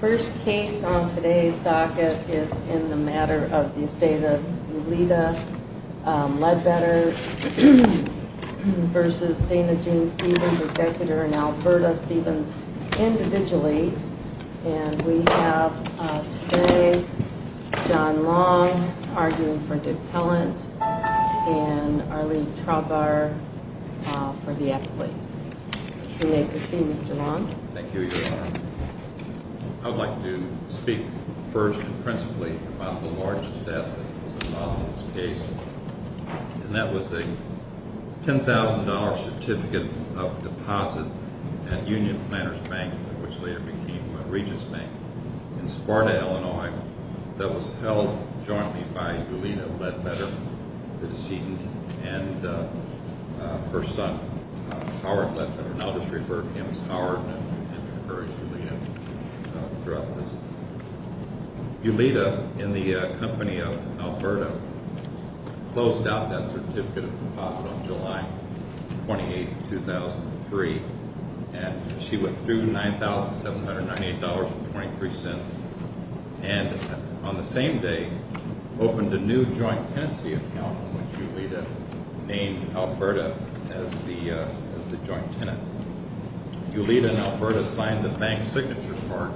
First case on today's docket is in the matter of the estate of Lolita Ledbetter versus Dana Jean Stephens, executor in Alberta, Stephens individually. And we have today John Long arguing for the appellant and Arlene Traubauer for the appellate. You may proceed, Mr. Long. Thank you, Your Honor. I would like to speak first and principally about the largest asset that was involved in this case. And that was a $10,000 certificate of deposit at Union Planners Bank, which later became Regents Bank, in Sparta, Illinois, that was held jointly by Lolita Ledbetter, the decedent, and her son, Howard Ledbetter, now just referred to him as Howard, and encouraged Lolita throughout the visit. Lolita, in the company of Alberta, closed out that certificate of deposit on July 28, 2003, and she withdrew $9,798.23 and on the same day opened a new joint tenancy account in which Lolita named Alberta as the joint tenant. Lolita and Alberta signed the bank signature card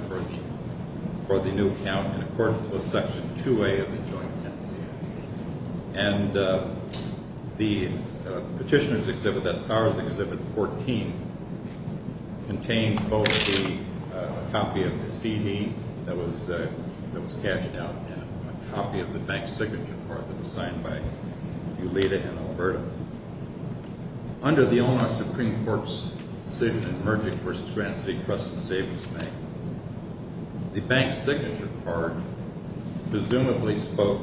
for the new account in accordance with Section 2A of the joint tenancy. And the Petitioner's Exhibit, that Star's Exhibit 14, contains both a copy of the CD that was cashed out and a copy of the bank signature card that was signed by Lolita and Alberta. Under the Illinois Supreme Court's decision in Merchants v. Grants v. Crust & Savings Bank, the bank signature card presumably spoke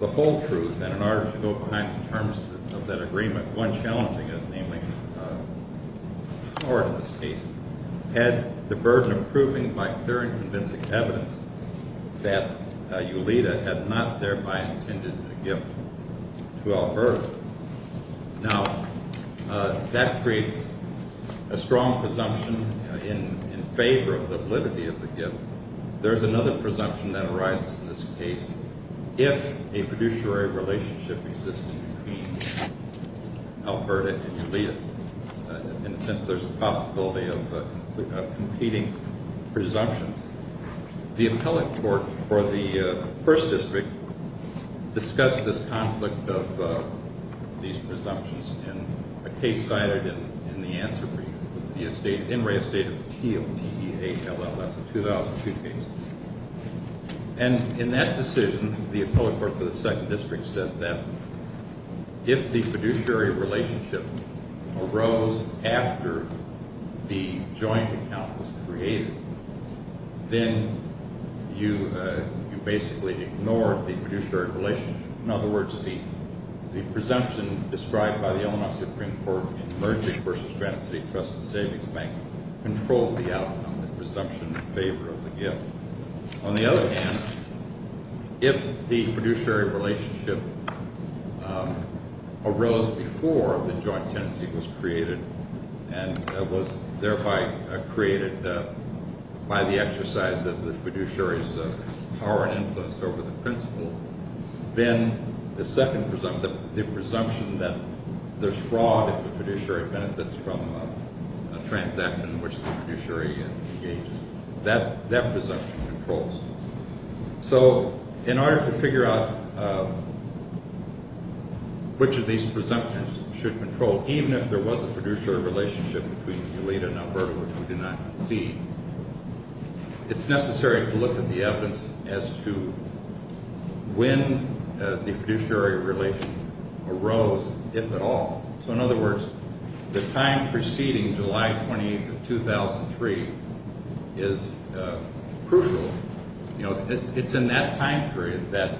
the whole truth, and in order to go behind the terms of that agreement, one challenging it, namely Howard, in this case, had the burden of proving by clear and convincing evidence that Lolita had not thereby intended a gift to Alberta. Now, that creates a strong presumption in favor of the validity of the gift. There's another presumption that arises in this case if a fiduciary relationship exists between Alberta and Lolita. In a sense, there's a possibility of competing presumptions. The Appellate Court for the 1st District discussed this conflict of these presumptions in a case cited in the answer brief. It was the In Re Estate of T.O.T.E.H.L.L.S., a 2002 case. And in that decision, the Appellate Court for the 2nd District said that if the fiduciary relationship arose after the joint account was created, then you basically ignored the fiduciary relationship. In other words, the presumption described by the Illinois Supreme Court in Merchants v. Grants v. Crust & Savings Bank controlled the outcome, the presumption in favor of the gift. On the other hand, if the fiduciary relationship arose before the joint tenancy was created and was thereby created by the exercise of the fiduciary's power and influence over the principal, then the second presumption, the presumption that there's fraud if the fiduciary benefits from a transaction in which the fiduciary engages, that presumption controls. So in order to figure out which of these presumptions should control, even if there was a fiduciary relationship between Elita and Alberta, which we did not see, it's necessary to look at the evidence as to when the fiduciary relation arose, if at all. So in other words, the time preceding July 28th of 2003 is crucial. It's in that time period that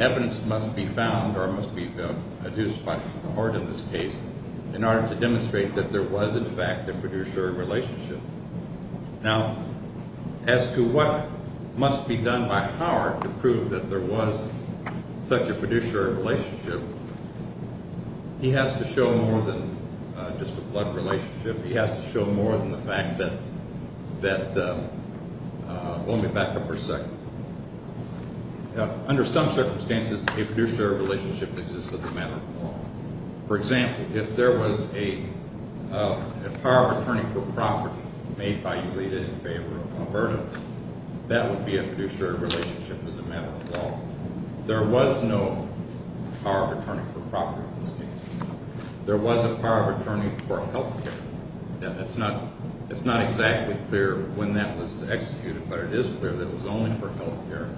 evidence must be found or must be produced by the court in this case in order to demonstrate that there was, in fact, a fiduciary relationship. Now, as to what must be done by Howard to prove that there was such a fiduciary relationship, he has to show more than just a blood relationship. He has to show more than the fact that – well, let me back up for a second. Under some circumstances, a fiduciary relationship exists as a matter of law. For example, if there was a power of attorney for property made by Elita in favor of Alberta, that would be a fiduciary relationship as a matter of law. There was no power of attorney for property in this case. There was a power of attorney for health care. It's not exactly clear when that was executed, but it is clear that it was only for health care,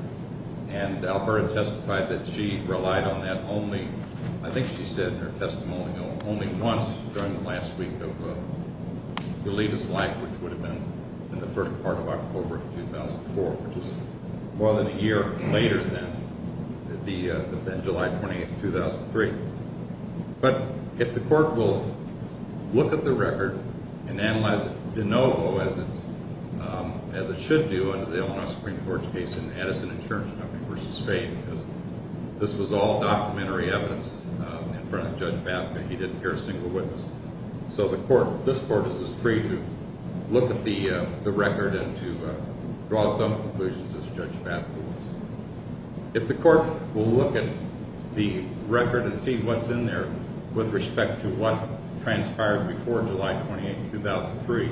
and Alberta testified that she relied on that only – I think she said in her testimony only once during the last week of Elita's life, which would have been in the first part of October of 2004, which is more than a year later than July 28, 2003. But if the court will look at the record and analyze it de novo, as it should do under the Illinois Supreme Court's case in Edison Insurance Company v. Faith, because this was all documentary evidence in front of Judge Batka. He didn't hear a single witness. So the court – this court is free to look at the record and to draw some conclusions as Judge Batka was. If the court will look at the record and see what's in there with respect to what transpired before July 28, 2003,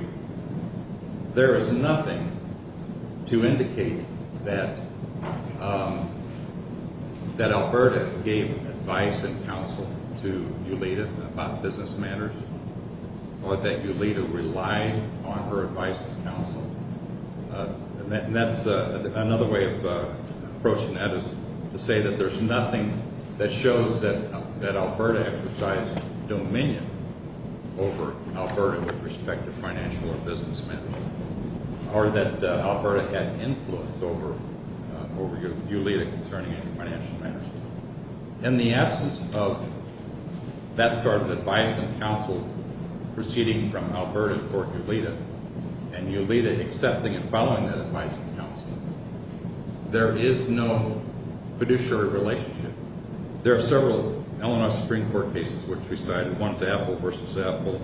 there is nothing to indicate that Alberta gave advice and counsel to Elita about business matters or that Elita relied on her advice and counsel. Another way of approaching that is to say that there's nothing that shows that Alberta exercised dominion over Alberta with respect to financial or business matters or that Alberta had influence over Elita concerning any financial matters. In the absence of that sort of advice and counsel proceeding from Alberta toward Elita and Elita accepting and following that advice and counsel, there is no fiduciary relationship. There are several Illinois Supreme Court cases which we cited. One is Apple v. Apple.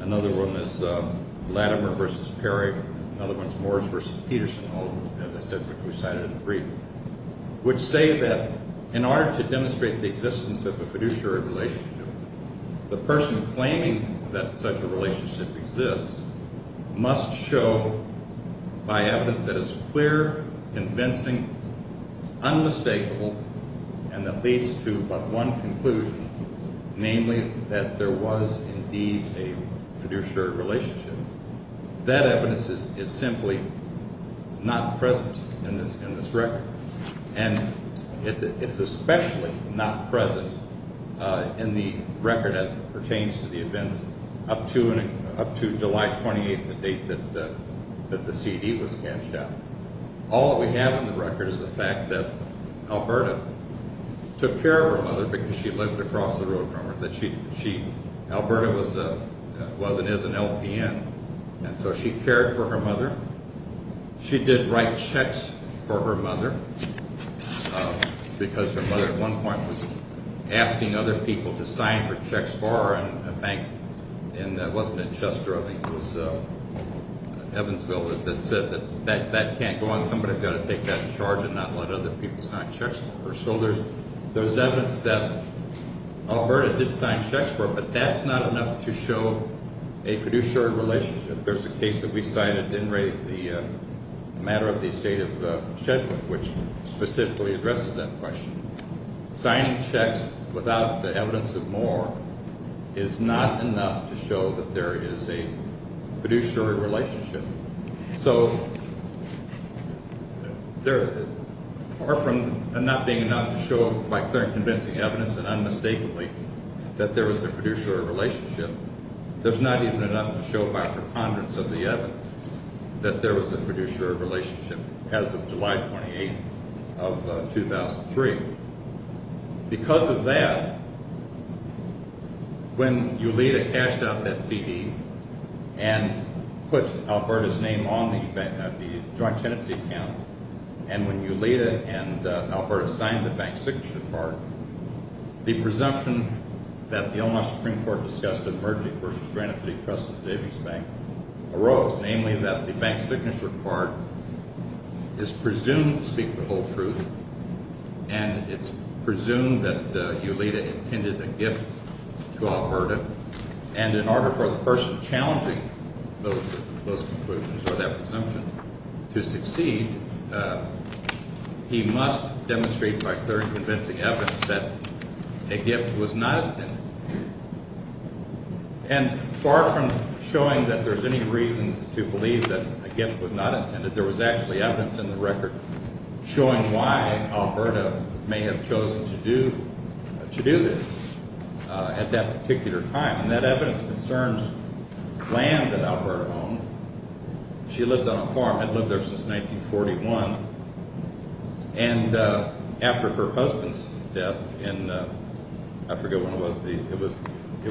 Another one is Latimer v. Perry. Another one is Morris v. Peterson, all of them, as I said, which we cited in three, which say that in order to demonstrate the existence of a fiduciary relationship, the person claiming that such a relationship exists must show by evidence that it's clear, convincing, unmistakable, and that leads to but one conclusion, namely that there was indeed a fiduciary relationship. That evidence is simply not present in this record. And it's especially not present in the record as it pertains to the events up to July 28, the date that the CD was cashed out. All that we have in the record is the fact that Alberta took care of her mother because she lived across the road from her. Alberta was and is an LPN, and so she cared for her mother. She did write checks for her mother because her mother at one point was asking other people to sign her checks for her and it wasn't in Chester, I think it was Evansville that said that that can't go on. Somebody's got to take that charge and not let other people sign checks for her. So there's evidence that Alberta did sign checks for her, but that's not enough to show a fiduciary relationship. There's a case that we cited in the matter of the estate of Shetland, which specifically addresses that question. Signing checks without the evidence of more is not enough to show that there is a fiduciary relationship. So far from not being enough to show by clear and convincing evidence and unmistakably that there was a fiduciary relationship, there's not even enough to show by preponderance of the evidence that there was a fiduciary relationship as of July 28th of 2003. Because of that, when Eulita cashed out that CD and put Alberta's name on the joint tenancy account and when Eulita and Alberta signed the bank signature card, the presumption that the Omaha Supreme Court discussed of merging versus Granite City Trust and Savings Bank arose, namely that the bank signature card is presumed to speak the whole truth and it's presumed that Eulita intended a gift to Alberta and in order for the person challenging those conclusions or that presumption to succeed, he must demonstrate by clear and convincing evidence that a gift was not intended. And far from showing that there's any reason to believe that a gift was not intended, there was actually evidence in the record showing why Alberta may have chosen to do this at that particular time. And that evidence concerns land that Alberta owned. She lived on a farm, had lived there since 1941 and after her husband's death in, I forget when it was, it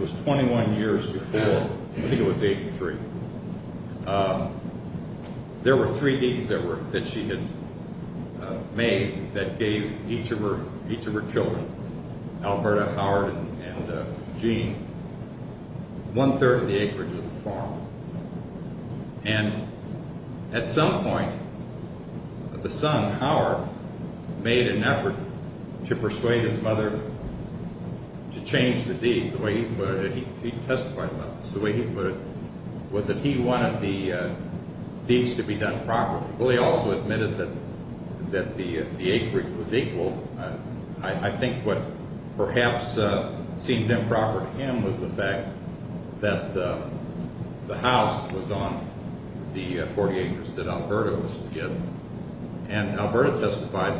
was 21 years before, I think it was 83, there were three deeds that she had made that gave each of her children, Alberta, Howard and Gene, one-third of the acreage of the farm. And at some point, the son, Howard, made an effort to persuade his mother to change the deeds, the way he put it, he testified about this, the way he put it, was that he wanted the deeds to be done properly. Willie also admitted that the acreage was equal. I think what perhaps seemed improper to him was the fact that the house was on the four acres that Alberta was to get. And Alberta testified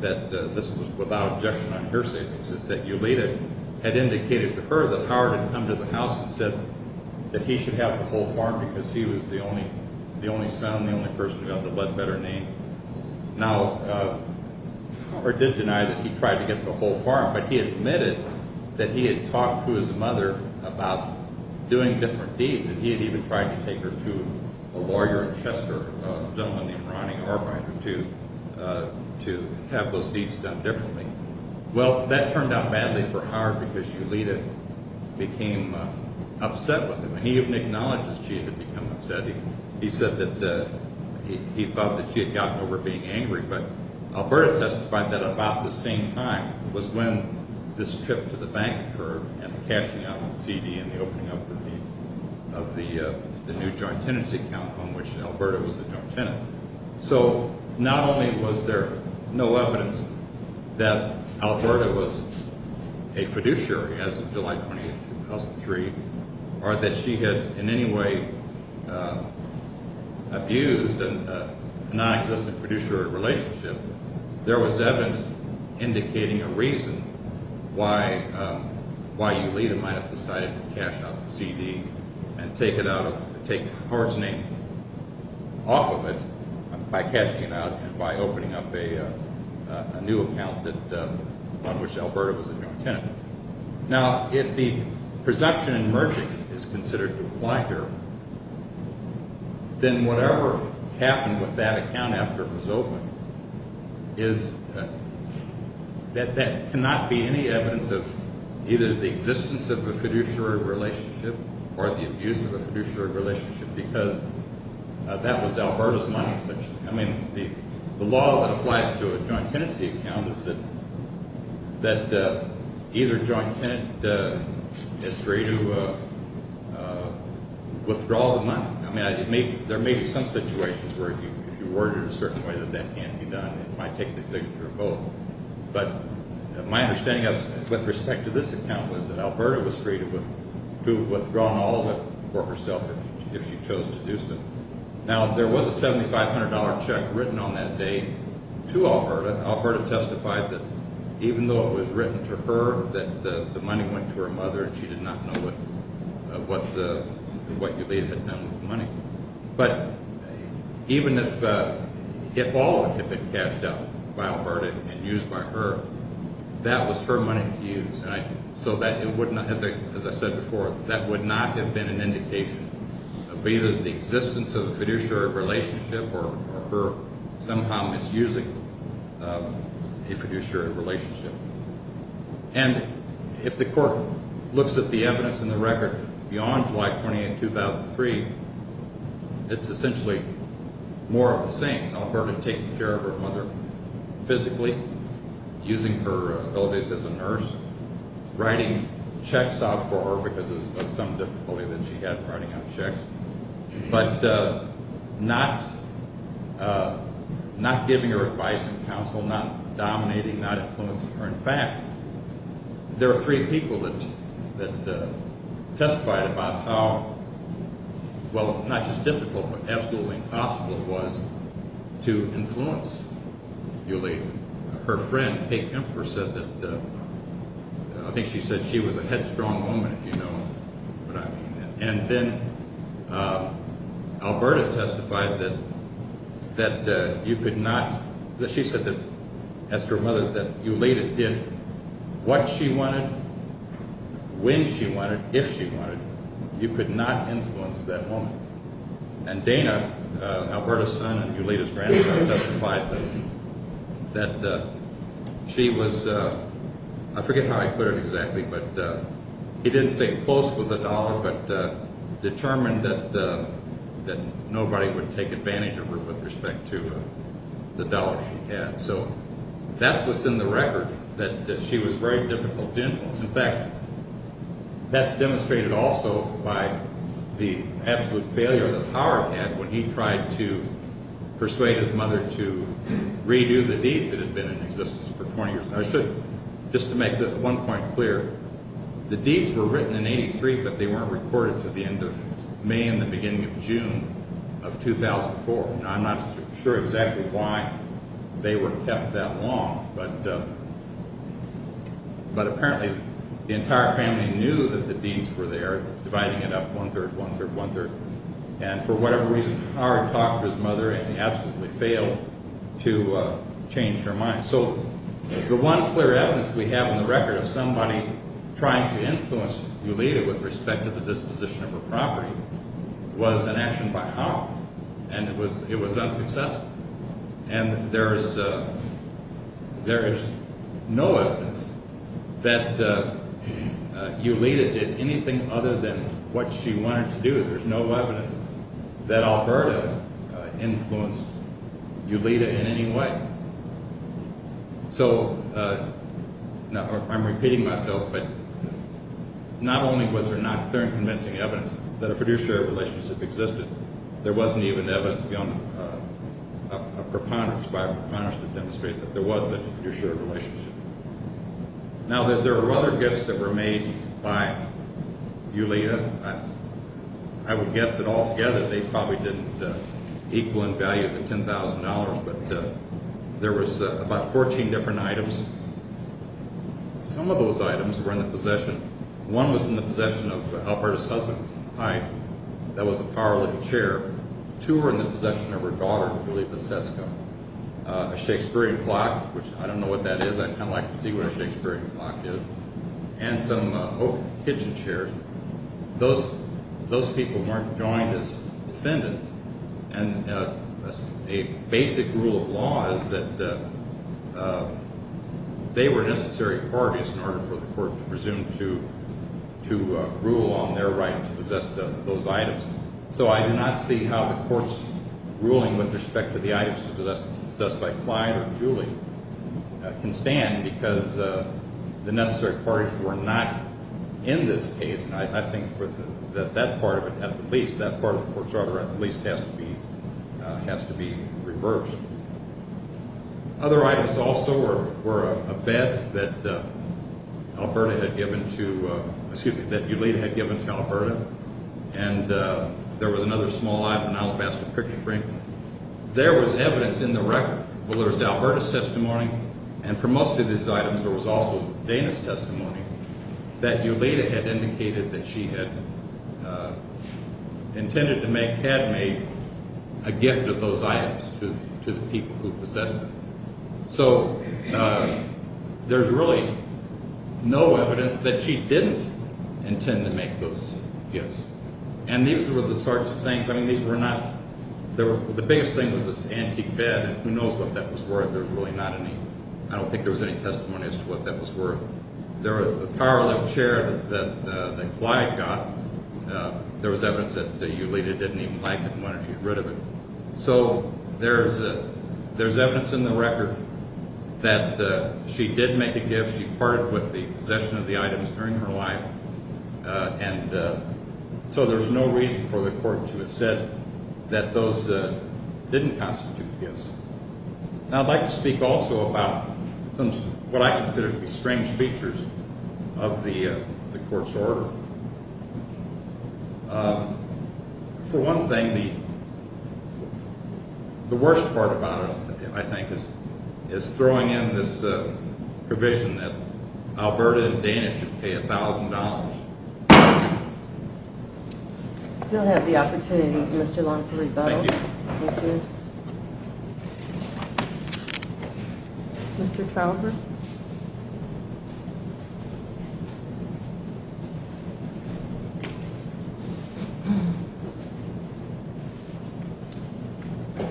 that this was without objection on her savings, is that Eulita had indicated to her that he should have the whole farm because he was the only son, the only person who had the better name. Now, Howard did deny that he tried to get the whole farm, but he admitted that he had talked to his mother about doing different deeds and he had even tried to take her to a lawyer in Chester, a gentleman named Ronnie Arbiter, to have those deeds done differently. Well, that turned out badly for Howard because Eulita became upset with him. He even acknowledged that she had become upset. He said that he thought that she had gotten over being angry, but Alberta testified that about the same time was when this trip to the bank occurred and the cashing out of the CD and the opening up of the new joint tenancy account on which Alberta was the joint tenant. So, not only was there no evidence that Alberta was a fiduciary as of July 23, 2003, or that she had in any way abused a non-existent fiduciary relationship, there was evidence indicating a reason why Eulita might have decided to cash out the CD and take Howard's name off of it by cashing it out and by opening up a new account on which Alberta was the joint tenant. Now, if the presumption in merging is considered to apply here, then whatever happened with that account after it was opened, that cannot be any evidence of either the existence of a fiduciary relationship or the abuse of a fiduciary relationship because that was Alberta's money. I mean, the law that applies to a joint tenancy account is that either joint tenant is free to withdraw the money. I mean, there may be some situations where if you word it a certain way that that can't be done. It might take the signature of both, but my understanding with respect to this account was that Alberta was free to withdraw all of it for herself if she chose to do so. Now, there was a $7,500 check written on that day to Alberta. Alberta testified that even though it was written to her that the money went to her mother and she did not know what Eulita had done with the money, but even if all of it had been cashed out by Alberta and used by her, that was her money to use. As I said before, that would not have been an indication of either the existence of a fiduciary relationship or her somehow misusing a fiduciary relationship. And if the court looks at the evidence in the record beyond July 20, 2003, it's essentially more of the same. Alberta taking care of her mother physically, using her abilities as a nurse, writing checks out for her because of some difficulty that she had writing out checks, but not giving her advice and counsel, not dominating, not influencing her. In fact, there are three people that testified about how, well, not just difficult, but absolutely impossible it was to influence Eulita. Her friend Kay Kempfer said that, I think she said she was a headstrong woman, if you know what I mean. And then Alberta testified that you could not, she said to ask her mother that Eulita did what she wanted, when she wanted, if she wanted, you could not influence that woman. And Dana, Alberta's son and Eulita's grandson, testified that she was, I forget how he put it exactly, but he didn't say close with the dollar, but determined that nobody would take advantage of her with respect to the dollar she had. So that's what's in the record, that she was very difficult to influence. In fact, that's demonstrated also by the absolute failure that Howard had when he tried to persuade his mother to redo the deeds that had been in existence for 20 years. Just to make one point clear, the deeds were written in 83, but they weren't recorded to the end of May and the beginning of June of 2004. I'm not sure exactly why they were kept that long, but apparently the entire family knew that the deeds were there, dividing it up one third, one third, one third. And for whatever reason, Howard talked to his mother and he absolutely failed to change her mind. So the one clear evidence we have in the record of somebody trying to influence Eulita with respect to the disposition of her property was an action by Howard and it was unsuccessful. And there is no evidence that Eulita did anything other than what she wanted to do. There's no evidence that Alberta influenced Eulita in any way. So I'm repeating myself, but not only was there not clear and convincing evidence that a fiduciary relationship existed, there wasn't even evidence beyond a preponderance to demonstrate that there was such a fiduciary relationship. Now there were other gifts that were made by Eulita. I would guess that altogether they probably didn't equal in value the $10,000, but there was about 14 different items. Some of those items were in the possession. One was in the possession of Alberta's husband, Hyde, that was a power-lifting chair. Two were in the possession of her daughter, Eulita Setsko, a Shakespearean clock, which I don't know what that is, I'd kind of like to see what a Shakespearean clock is, and some oak kitchen chairs. Those people weren't joined as defendants and a basic rule of law is that they were necessary parties in order for the court to presume to rule on their right to possess those items. So I do not see how the court's ruling with respect to the items possessed by Clyde or Julie can stand because the necessary parties were not in this case, and I think that part of it at the least, that part of the court's order at the least has to be reversed. Other items also were a bed that Eulita had given to Alberta, and there was another small item, an alabaster picture frame. There was evidence in the record, well there was Alberta's testimony, and for most of these items there was also Dana's testimony, that Eulita had indicated that she had intended to make, had made, a gift of those items to the people who possessed them. So there's really no evidence that she didn't intend to make those gifts, and these were the sorts of things, I mean these were not, the biggest thing was this antique bed, and who knows what that was worth, there was really not any, I don't think there was any testimony as to what that was worth. There was a power lift chair that Clyde got, there was evidence that Eulita didn't even like it and wanted to get rid of it. So there's evidence in the record that she did make a gift, she parted with the possession of the items during her life, and so there's no reason for the court to have said that those didn't constitute gifts. Now I'd like to speak also about some of what I consider to be strange features of the court's order. For one thing, the worst part about it I think is throwing in this provision that Alberta and Dana should pay $1,000. You'll have the opportunity, Mr. Long to rebuttal. Thank you. Thank you. Mr. Trauber.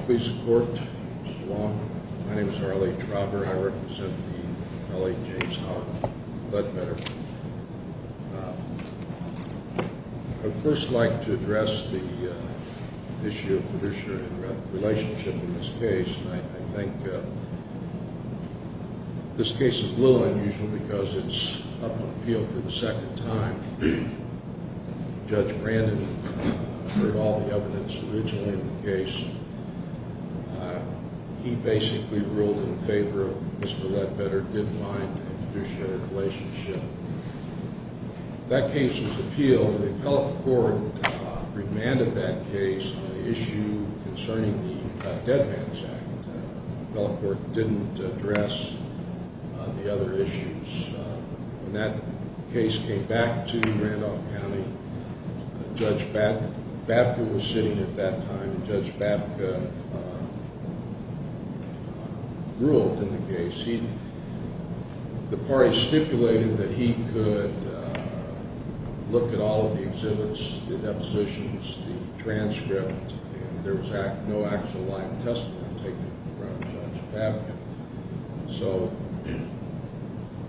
Please support Mr. Long. My name is Harley Trauber, I represent the L.A. James Haught Ledbetter. I'd first like to address the issue of fiduciary relationship in this case, and I think this case is a little unusual because it's up on appeal for the second time. Judge Brandon heard all the evidence originally in the case. He basically ruled in favor of Mr. Ledbetter didn't mind a fiduciary relationship. That case was appealed, and the appellate court remanded that case on the issue concerning the Dead Man's Act. The appellate court didn't address the other issues. When that case came back to Randolph County, Judge Babka was sitting at that time, and Judge Babka ruled in the case. The party stipulated that he could look at all of the exhibits, the depositions, the transcript, and there was no actual live testimony taken from Judge Babka.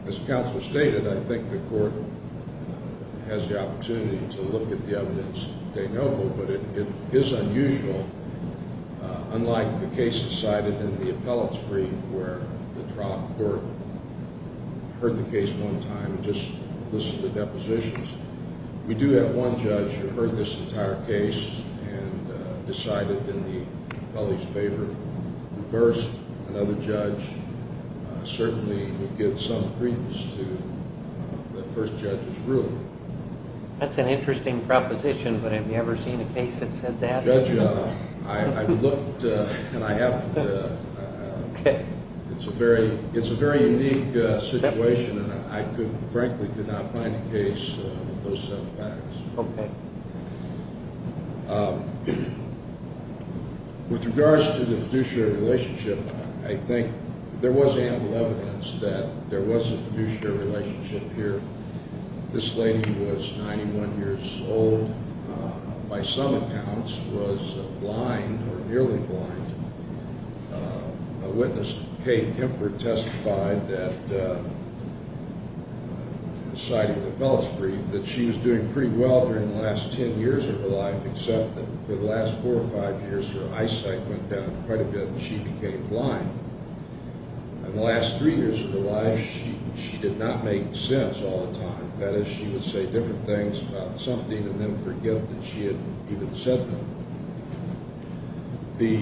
As counsel stated, I think the court has the opportunity to look at the evidence they know of, but it is unusual. Unlike the cases cited in the appellate's brief where the trial court heard the case one time and just listed the depositions, we do have one judge who heard this entire case and decided in the appellate's favor. At first, another judge certainly would give some credence to the first judge's ruling. That's an interesting proposition, but have you ever seen a case that said that? Well, Judge, I've looked, and I haven't. It's a very unique situation, and I frankly could not find a case with those set of facts. Okay. With regards to the fiduciary relationship, I think there was ample evidence that there was a fiduciary relationship here. This lady was 91 years old, by some accounts was blind or nearly blind. A witness, Kate Kempford, testified that, cited in the appellate's brief, that she was doing pretty well during the last 10 years of her life, except that for the last four or five years, her eyesight went down quite a bit, and she became blind. In the last three years of her life, she did not make sense all the time. That is, she would say different things about something and then forget that she had even said them. The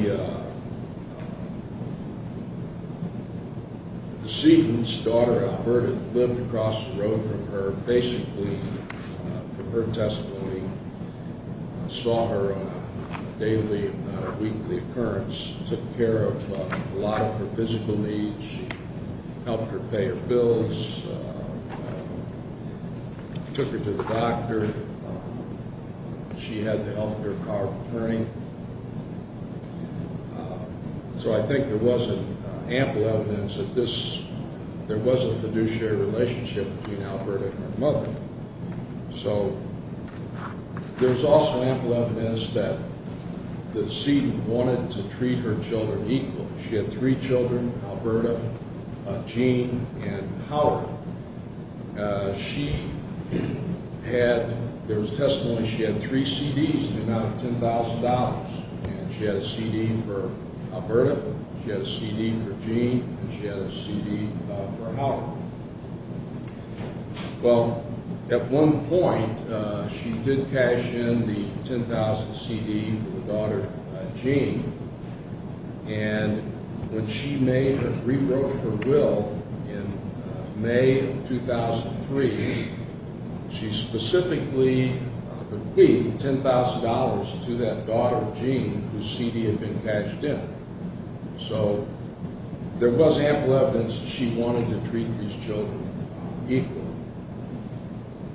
decedent's daughter, I've heard, had lived across the road from her, basically from her testimony, saw her daily and weekly occurrence, took care of a lot of her physical needs, helped her pay her bills, took her to the doctor. She had the health care card occurring. So I think there was ample evidence that there was a fiduciary relationship between Alberta and her mother. So there was also ample evidence that the decedent wanted to treat her children equally. She had three children, Alberta, Jean, and Howard. There was testimony that she had three CDs in the amount of $10,000. She had a CD for Alberta, she had a CD for Jean, and she had a CD for Howard. Well, at one point, she did cash in the $10,000 CD for her daughter, Jean, and when she made a rewrote of her will in May of 2003, she specifically bequeathed $10,000 to that daughter, Jean, whose CD had been cashed in. So there was ample evidence that she wanted to treat these children equally.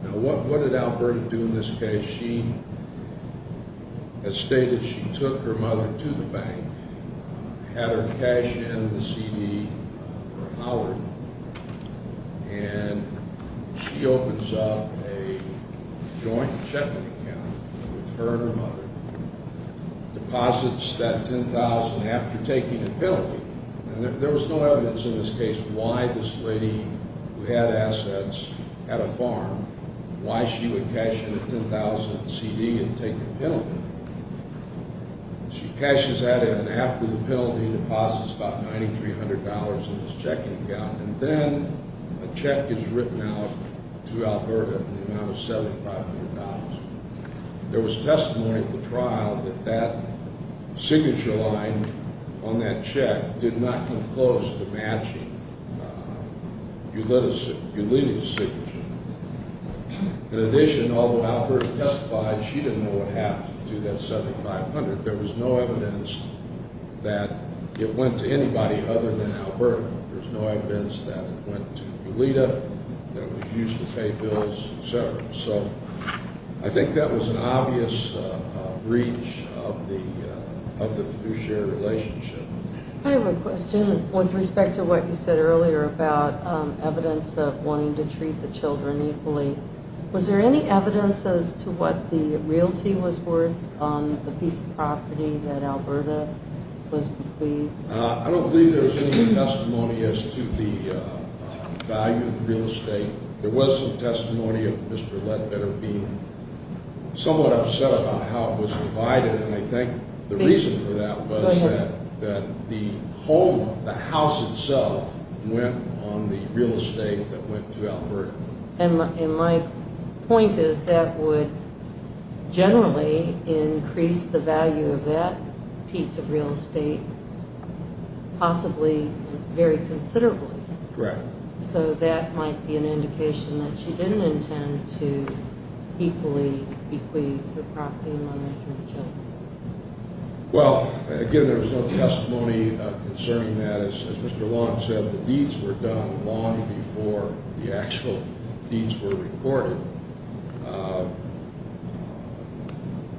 Now, what did Alberta do in this case? She, as stated, she took her mother to the bank, had her cash in the CD for Howard, and she opens up a joint check-in account with her and her mother, deposits that $10,000 after taking a penalty. And there was no evidence in this case why this lady, who had assets, had a farm, why she would cash in a $10,000 CD and take a penalty. She cashes that in, and after the penalty, deposits about $9,300 in this check-in account, and then a check is written out to Alberta in the amount of $7,500. There was testimony at the trial that that signature line on that check did not come close to matching Eulita's signature. In addition, although Alberta testified, she didn't know what happened to that $7,500. There was no evidence that it went to anybody other than Alberta. There's no evidence that it went to Eulita, that it was used to pay bills, et cetera. So I think that was an obvious breach of the fiduciary relationship. I have a question with respect to what you said earlier about evidence of wanting to treat the children equally. Was there any evidence as to what the realty was worth on the piece of property that Alberta was pleased? I don't believe there was any testimony as to the value of the real estate. There was some testimony of Mr. Lett that had been somewhat upset about how it was provided, and I think the reason for that was that the home, the house itself, went on the real estate that went to Alberta. And my point is that would generally increase the value of that piece of real estate possibly very considerably. Correct. So that might be an indication that she didn't intend to equally bequeath the property money to the children. Well, again, there was no testimony concerning that. As Mr. Long said, the deeds were done long before the actual deeds were recorded.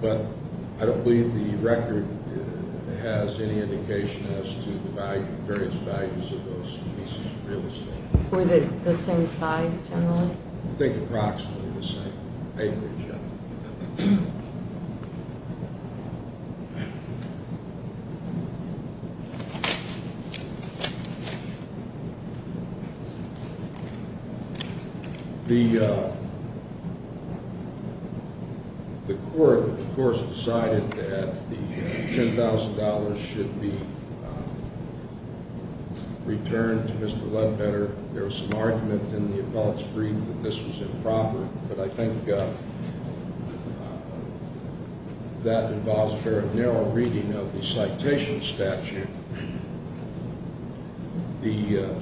But I don't believe the record has any indication as to the various values of those pieces of real estate. Were they the same size generally? I think approximately the same acreage. The court, of course, decided that the $10,000 should be returned to Mr. Lettbetter. There was some argument in the adults' brief that this was improper. But I think that involves a very narrow reading of the citation statute.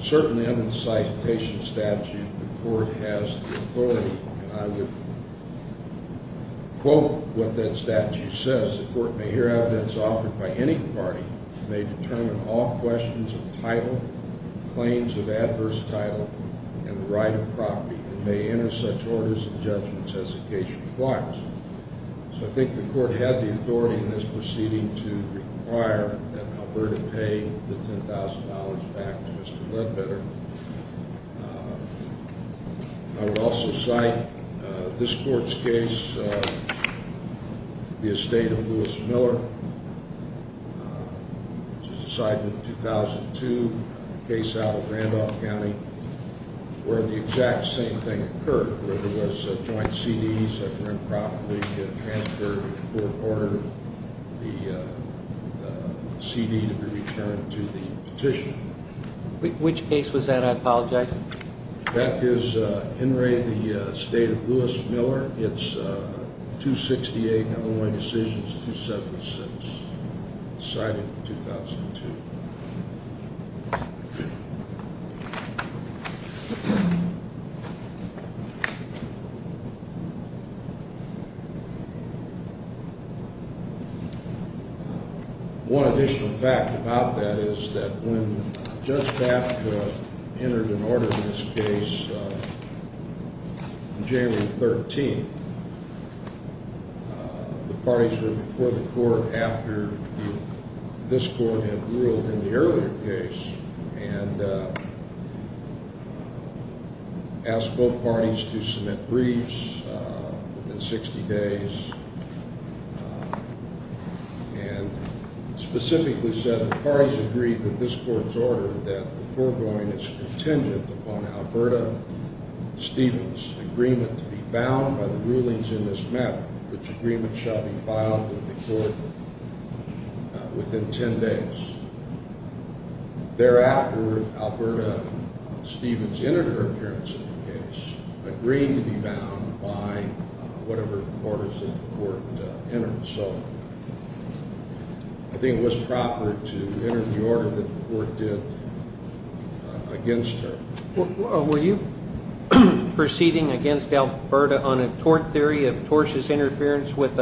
Certainly under the citation statute, the court has the authority. And I would quote what that statute says. So I think the court had the authority in this proceeding to require that Alberta pay the $10,000 back to Mr. Lettbetter. I would also cite this court's case, the estate of Lewis Miller, which was decided in 2002, a case out of Randolph County, where the exact same thing occurred, where there was joint CDs that were improperly transferred. The court ordered the CD to be returned to the petitioner. Which case was that? I apologize. That is Henry, the estate of Lewis Miller. It's 268, Illinois Decisions, 276, cited in 2002. One additional fact about that is that when Judge Bapka entered an order in this case on January 13th, the parties were before the court after this court had ruled in the earlier case. And asked both parties to submit briefs within 60 days. And specifically said that the parties agreed with this court's order that the foregoing is contingent upon Alberta Stevens' agreement to be bound by the rulings in this matter, which agreement shall be filed with the court within 10 days. Thereafter, Alberta Stevens, in her appearance in the case, agreed to be bound by whatever orders that the court entered. So I think it was proper to enter the order that the court did against her. Were you proceeding against Alberta on a tort theory of tortious interference with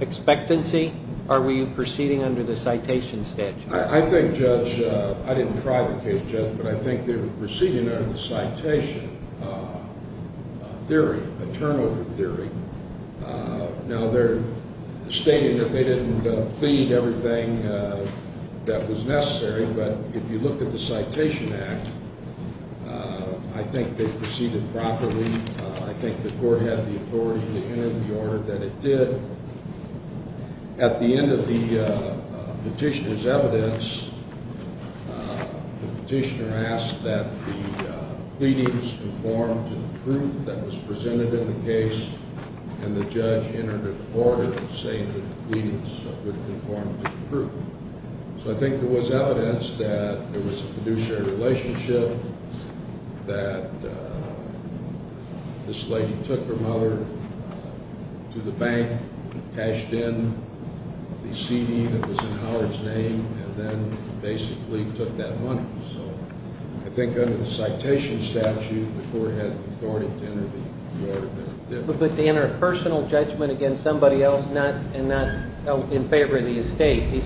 expectancy, or were you proceeding under the citation statute? I think, Judge, I didn't try the case, Judge, but I think they were proceeding under the citation theory, a turnover theory. Now they're stating that they didn't plead everything that was necessary, but if you look at the citation act, I think they proceeded properly. I think the court had the authority to enter the order that it did. At the end of the petitioner's evidence, the petitioner asked that the pleadings conform to the proof that was presented in the case, and the judge entered an order saying that the pleadings would conform to the proof. So I think there was evidence that there was a fiduciary relationship, that this lady took her mother to the bank, cashed in the CD that was in Howard's name, and then basically took that money. So I think under the citation statute, the court had the authority to enter the order that it did. But to enter a personal judgment against somebody else and not in favor of the estate.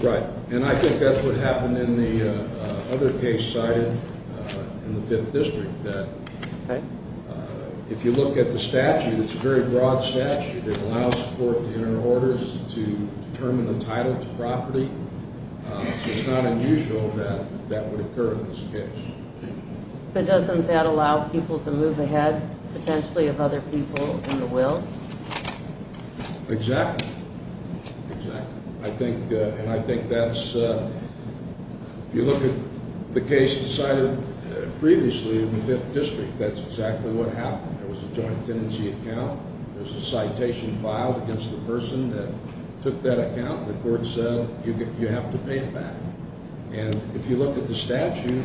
Right. And I think that's what happened in the other case cited in the Fifth District, that if you look at the statute, it's a very broad statute. It allows the court to enter orders to determine the title to property, so it's not unusual that that would occur in this case. But doesn't that allow people to move ahead, potentially, of other people in the will? Exactly. Exactly. And I think that's, if you look at the case cited previously in the Fifth District, that's exactly what happened. There was a joint tenancy account. There's a citation filed against the person that took that account, and the court said, you have to pay it back. And if you look at the statute,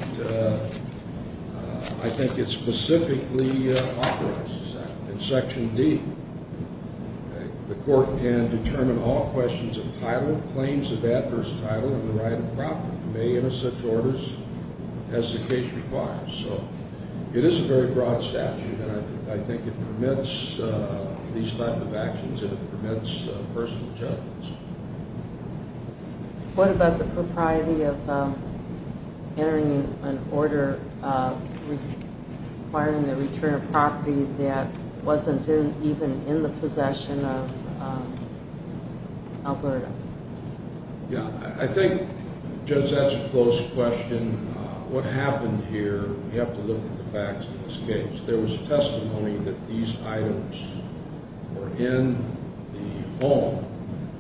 I think it specifically authorizes that. In Section D, the court can determine all questions of title, claims of adverse title, and the right of property. It may enter such orders as the case requires. So it is a very broad statute, and I think it permits these type of actions and it permits personal judgments. What about the propriety of entering an order requiring the return of property that wasn't even in the possession of Alberta? Yeah, I think, Judge, that's a close question. What happened here, you have to look at the facts in this case. There was testimony that these items were in the home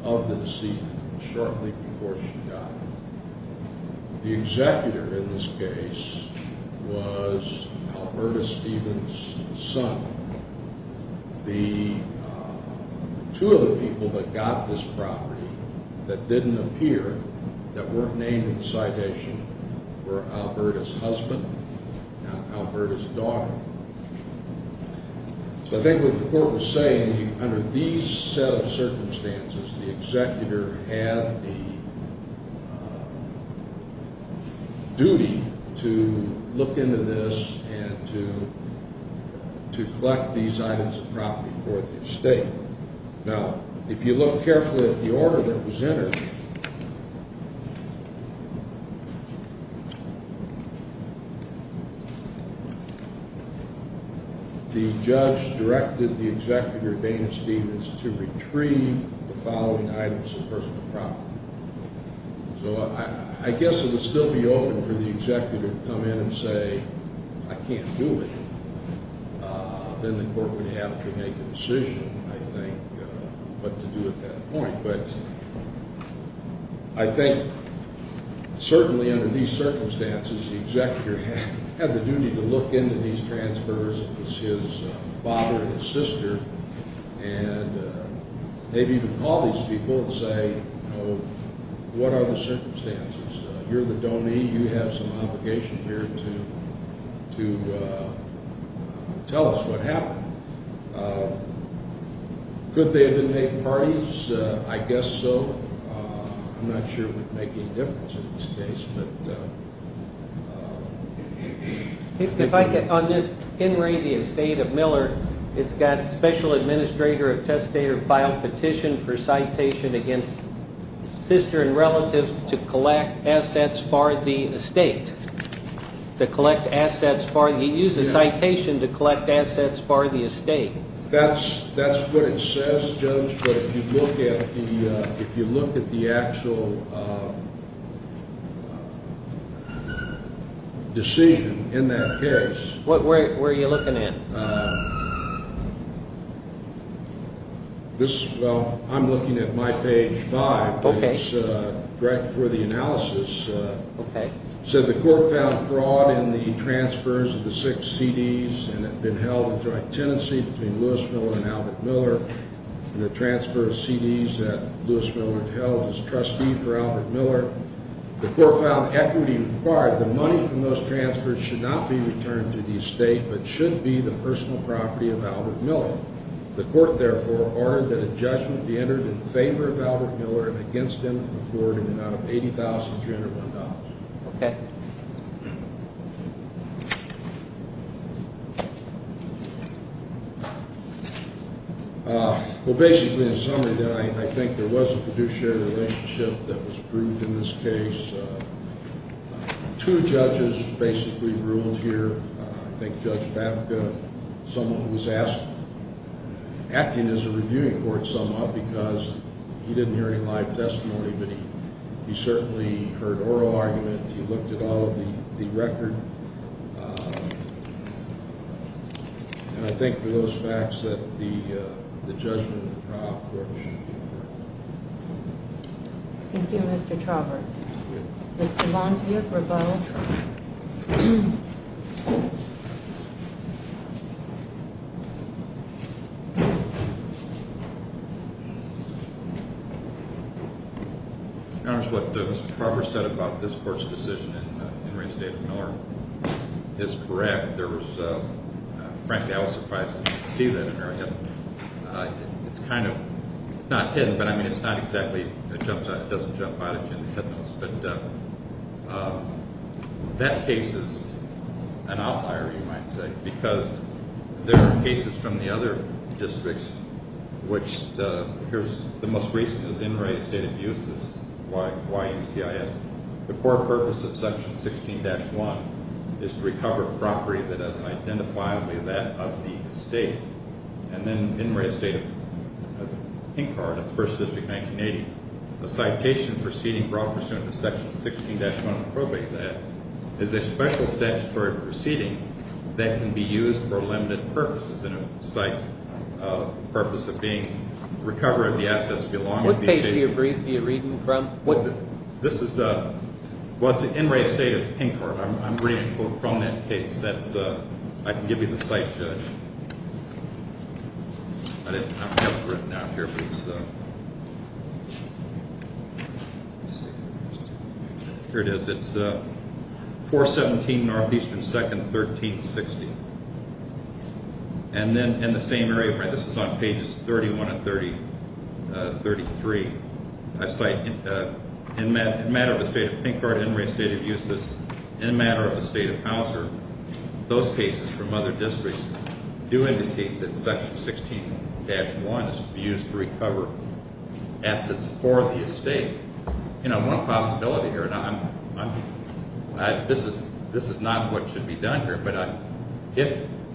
of the decedent shortly before she died. The executor in this case was Alberta Stevens' son. The two other people that got this property that didn't appear, that weren't named in the citation, were Alberta's husband and Alberta's daughter. So I think what the court was saying, under these set of circumstances, the executor had a duty to look into this and to collect these items of property for the estate. Now, if you look carefully at the order that was entered, the judge directed the executor, Dana Stevens, to retrieve the following items of personal property. So I guess it would still be open for the executor to come in and say, I can't do it. Then the court would have to make a decision, I think, what to do at that point. But I think, certainly under these circumstances, the executor had the duty to look into these transfers. It was his father and his sister. And they'd even call these people and say, what are the circumstances? You're the donee. You have some obligation here to tell us what happened. Could they have been made parties? I guess so. I'm not sure it would make any difference in this case. If I could, on this Henry, the estate of Miller, it's got special administrator of testator filed petition for citation against sister and relative to collect assets for the estate. To collect assets for the estate. He used a citation to collect assets for the estate. That's what it says, Judge. But if you look at the actual decision in that case. Where are you looking at? I'm looking at my page five. It's right before the analysis. So the court found fraud in the transfers of the six CDs and had been held in joint tenancy between Lewis Miller and Albert Miller. And the transfer of CDs that Lewis Miller held as trustee for Albert Miller. The court found equity required. The money from those transfers should not be returned to the estate, but should be the personal property of Albert Miller. The court, therefore, ordered that a judgment be entered in favor of Albert Miller and against him for an amount of $80,301. Okay. Well, basically, in summary, I think there was a fiduciary relationship that was approved in this case. Two judges basically ruled here. I think Judge Babka, someone who was acting as a reviewing court somehow because he didn't hear any live testimony. But he certainly heard oral argument. He looked at all of the record. And I think for those facts that the judgment of the trial court should be approved. Thank you, Mr. Traubert. Mr. Montier for both. Thank you, Your Honor. Your Honor, what Mr. Traubert said about this court's decision in reinstating Miller is correct. There was, frankly, I was surprised to see that in there. It's kind of, it's not hidden, but I mean it's not exactly, it jumps out, it doesn't jump out at you in the head notes. But that case is an outlier, you might say. Because there are cases from the other districts, which here's the most recent is Enright Estate Abuses, YUCIS. The core purpose of Section 16-1 is to recover property that is identifiably that of the estate. And then Enright Estate of Pinkhart, that's 1st District, 1980. The citation proceeding brought pursuant to Section 16-1 of the Probate Act is a special statutory proceeding that can be used for limited purposes. And it cites the purpose of being, recovery of the assets belonging to the estate. What page are you reading from? This is, well, it's Enright Estate of Pinkhart. I'm reading from that case. I can give you the site. Here it is, it's 417 Northeastern 2nd, 1360. And then in the same area, this is on pages 31 and 33. I cite, in a matter of the state of Pinkhart, Enright Estate of YUCIS, in a matter of the state of Hauser. Those cases from other districts do indicate that Section 16-1 is used to recover assets for the estate. You know, one possibility here, and this is not what should be done here.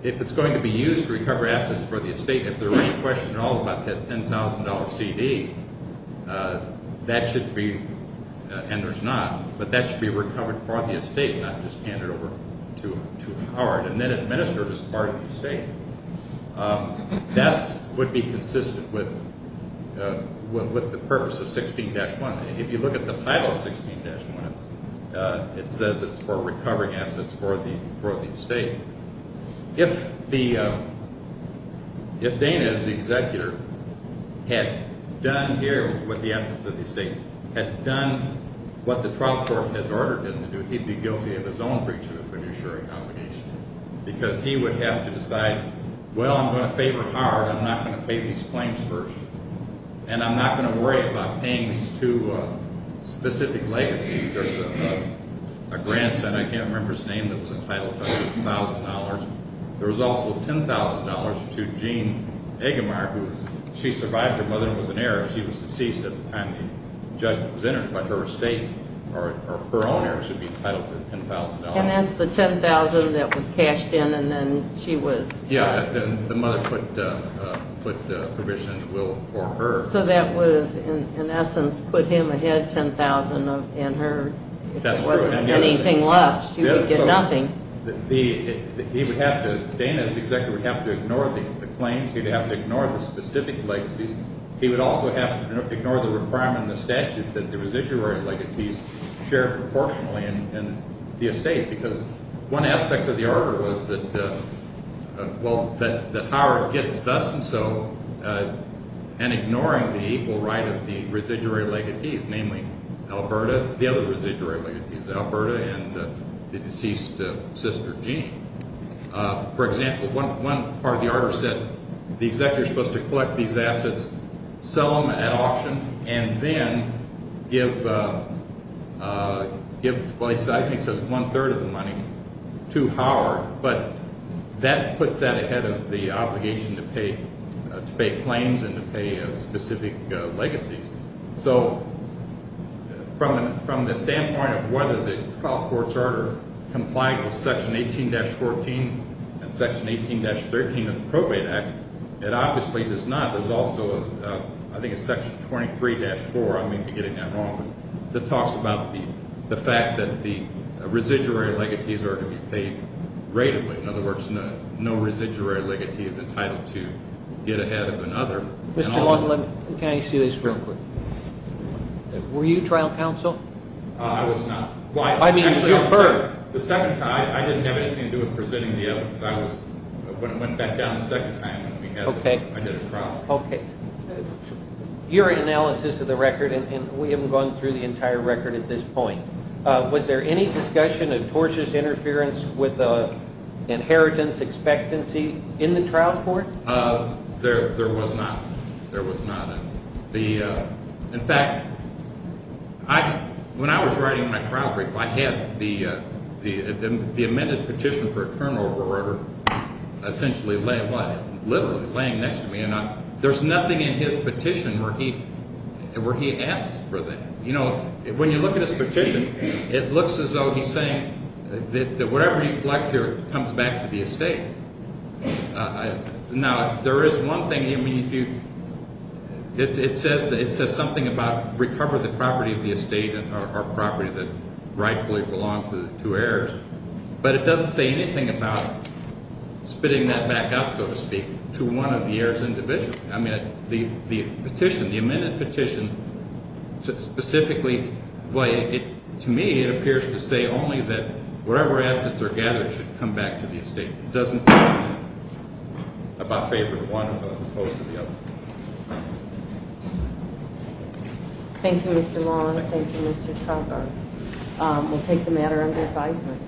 If it's going to be used to recover assets for the estate, if there was a question at all about that $10,000 CD, that should be, and there's not, but that should be recovered for the estate, not just handed over to Enright. And then administered as part of the estate. That would be consistent with the purpose of 16-1. If you look at the title of 16-1, it says it's for recovering assets for the estate. If Dana, as the executor, had done here with the assets of the estate, had done what the trial court has ordered him to do, he'd be guilty of his own breach of the fiduciary obligation. Because he would have to decide, well, I'm going to favor Howard, I'm not going to pay these claims first. And I'm not going to worry about paying these two specific legacies. There's a grandson, I can't remember his name, that was entitled to $10,000. There was also $10,000 to Jean Eggemeyer, who, she survived her mother and was an heiress. She was deceased at the time the judgment was entered, but her estate, or her owner, should be entitled to $10,000. And that's the $10,000 that was cashed in and then she was... Yeah, the mother put the provision will for her. So that would have, in essence, put him ahead $10,000 and her. That's true. If there wasn't anything left, you would get nothing. He would have to, Dana, as the executor, would have to ignore the claims. He would have to ignore the specific legacies. He would also have to ignore the requirement in the statute that the residuary legacies share proportionally in the estate. Because one aspect of the order was that Howard gets thus and so, and ignoring the equal right of the residuary legacies, namely Alberta, the other residuary legacies, Alberta, and the deceased sister, Jean. For example, one part of the order said the executor is supposed to collect these assets, sell them at auction, and then give, well, I think it says one-third of the money to Howard. But that puts that ahead of the obligation to pay claims and to pay specific legacies. So from the standpoint of whether the trial court's order complied with Section 18-14 and Section 18-13 of the Probate Act, it obviously does not. There's also, I think it's Section 23-4, I may be getting that wrong, that talks about the fact that the residuary legacies are to be paid ratedly. In other words, no residuary legacy is entitled to get ahead of another. Mr. Long, can I ask you this real quick? Sure. Were you trial counsel? I was not. Why? I mean, you still heard. The second time, I didn't have anything to do with presenting the evidence. I went back down the second time. Okay. I did a trial. Okay. Your analysis of the record, and we haven't gone through the entire record at this point, was there any discussion of tortious interference with inheritance expectancy in the trial court? There was not. There was not. In fact, when I was writing my trial brief, I had the amended petition for a turnover order essentially laying what? Literally laying next to me, and there's nothing in his petition where he asks for that. You know, when you look at his petition, it looks as though he's saying that whatever you collect here comes back to the estate. Now, there is one thing. I mean, it says something about recover the property of the estate or property that rightfully belonged to the two heirs, but it doesn't say anything about spitting that back up, so to speak, to one of the heirs individually. I mean, the petition, the amended petition specifically, to me, it appears to say only that whatever assets are gathered should come back to the estate. It doesn't say anything about favoring one as opposed to the other. Thank you, Mr. Long. Thank you, Mr. Tucker. We'll take the matter under advisement.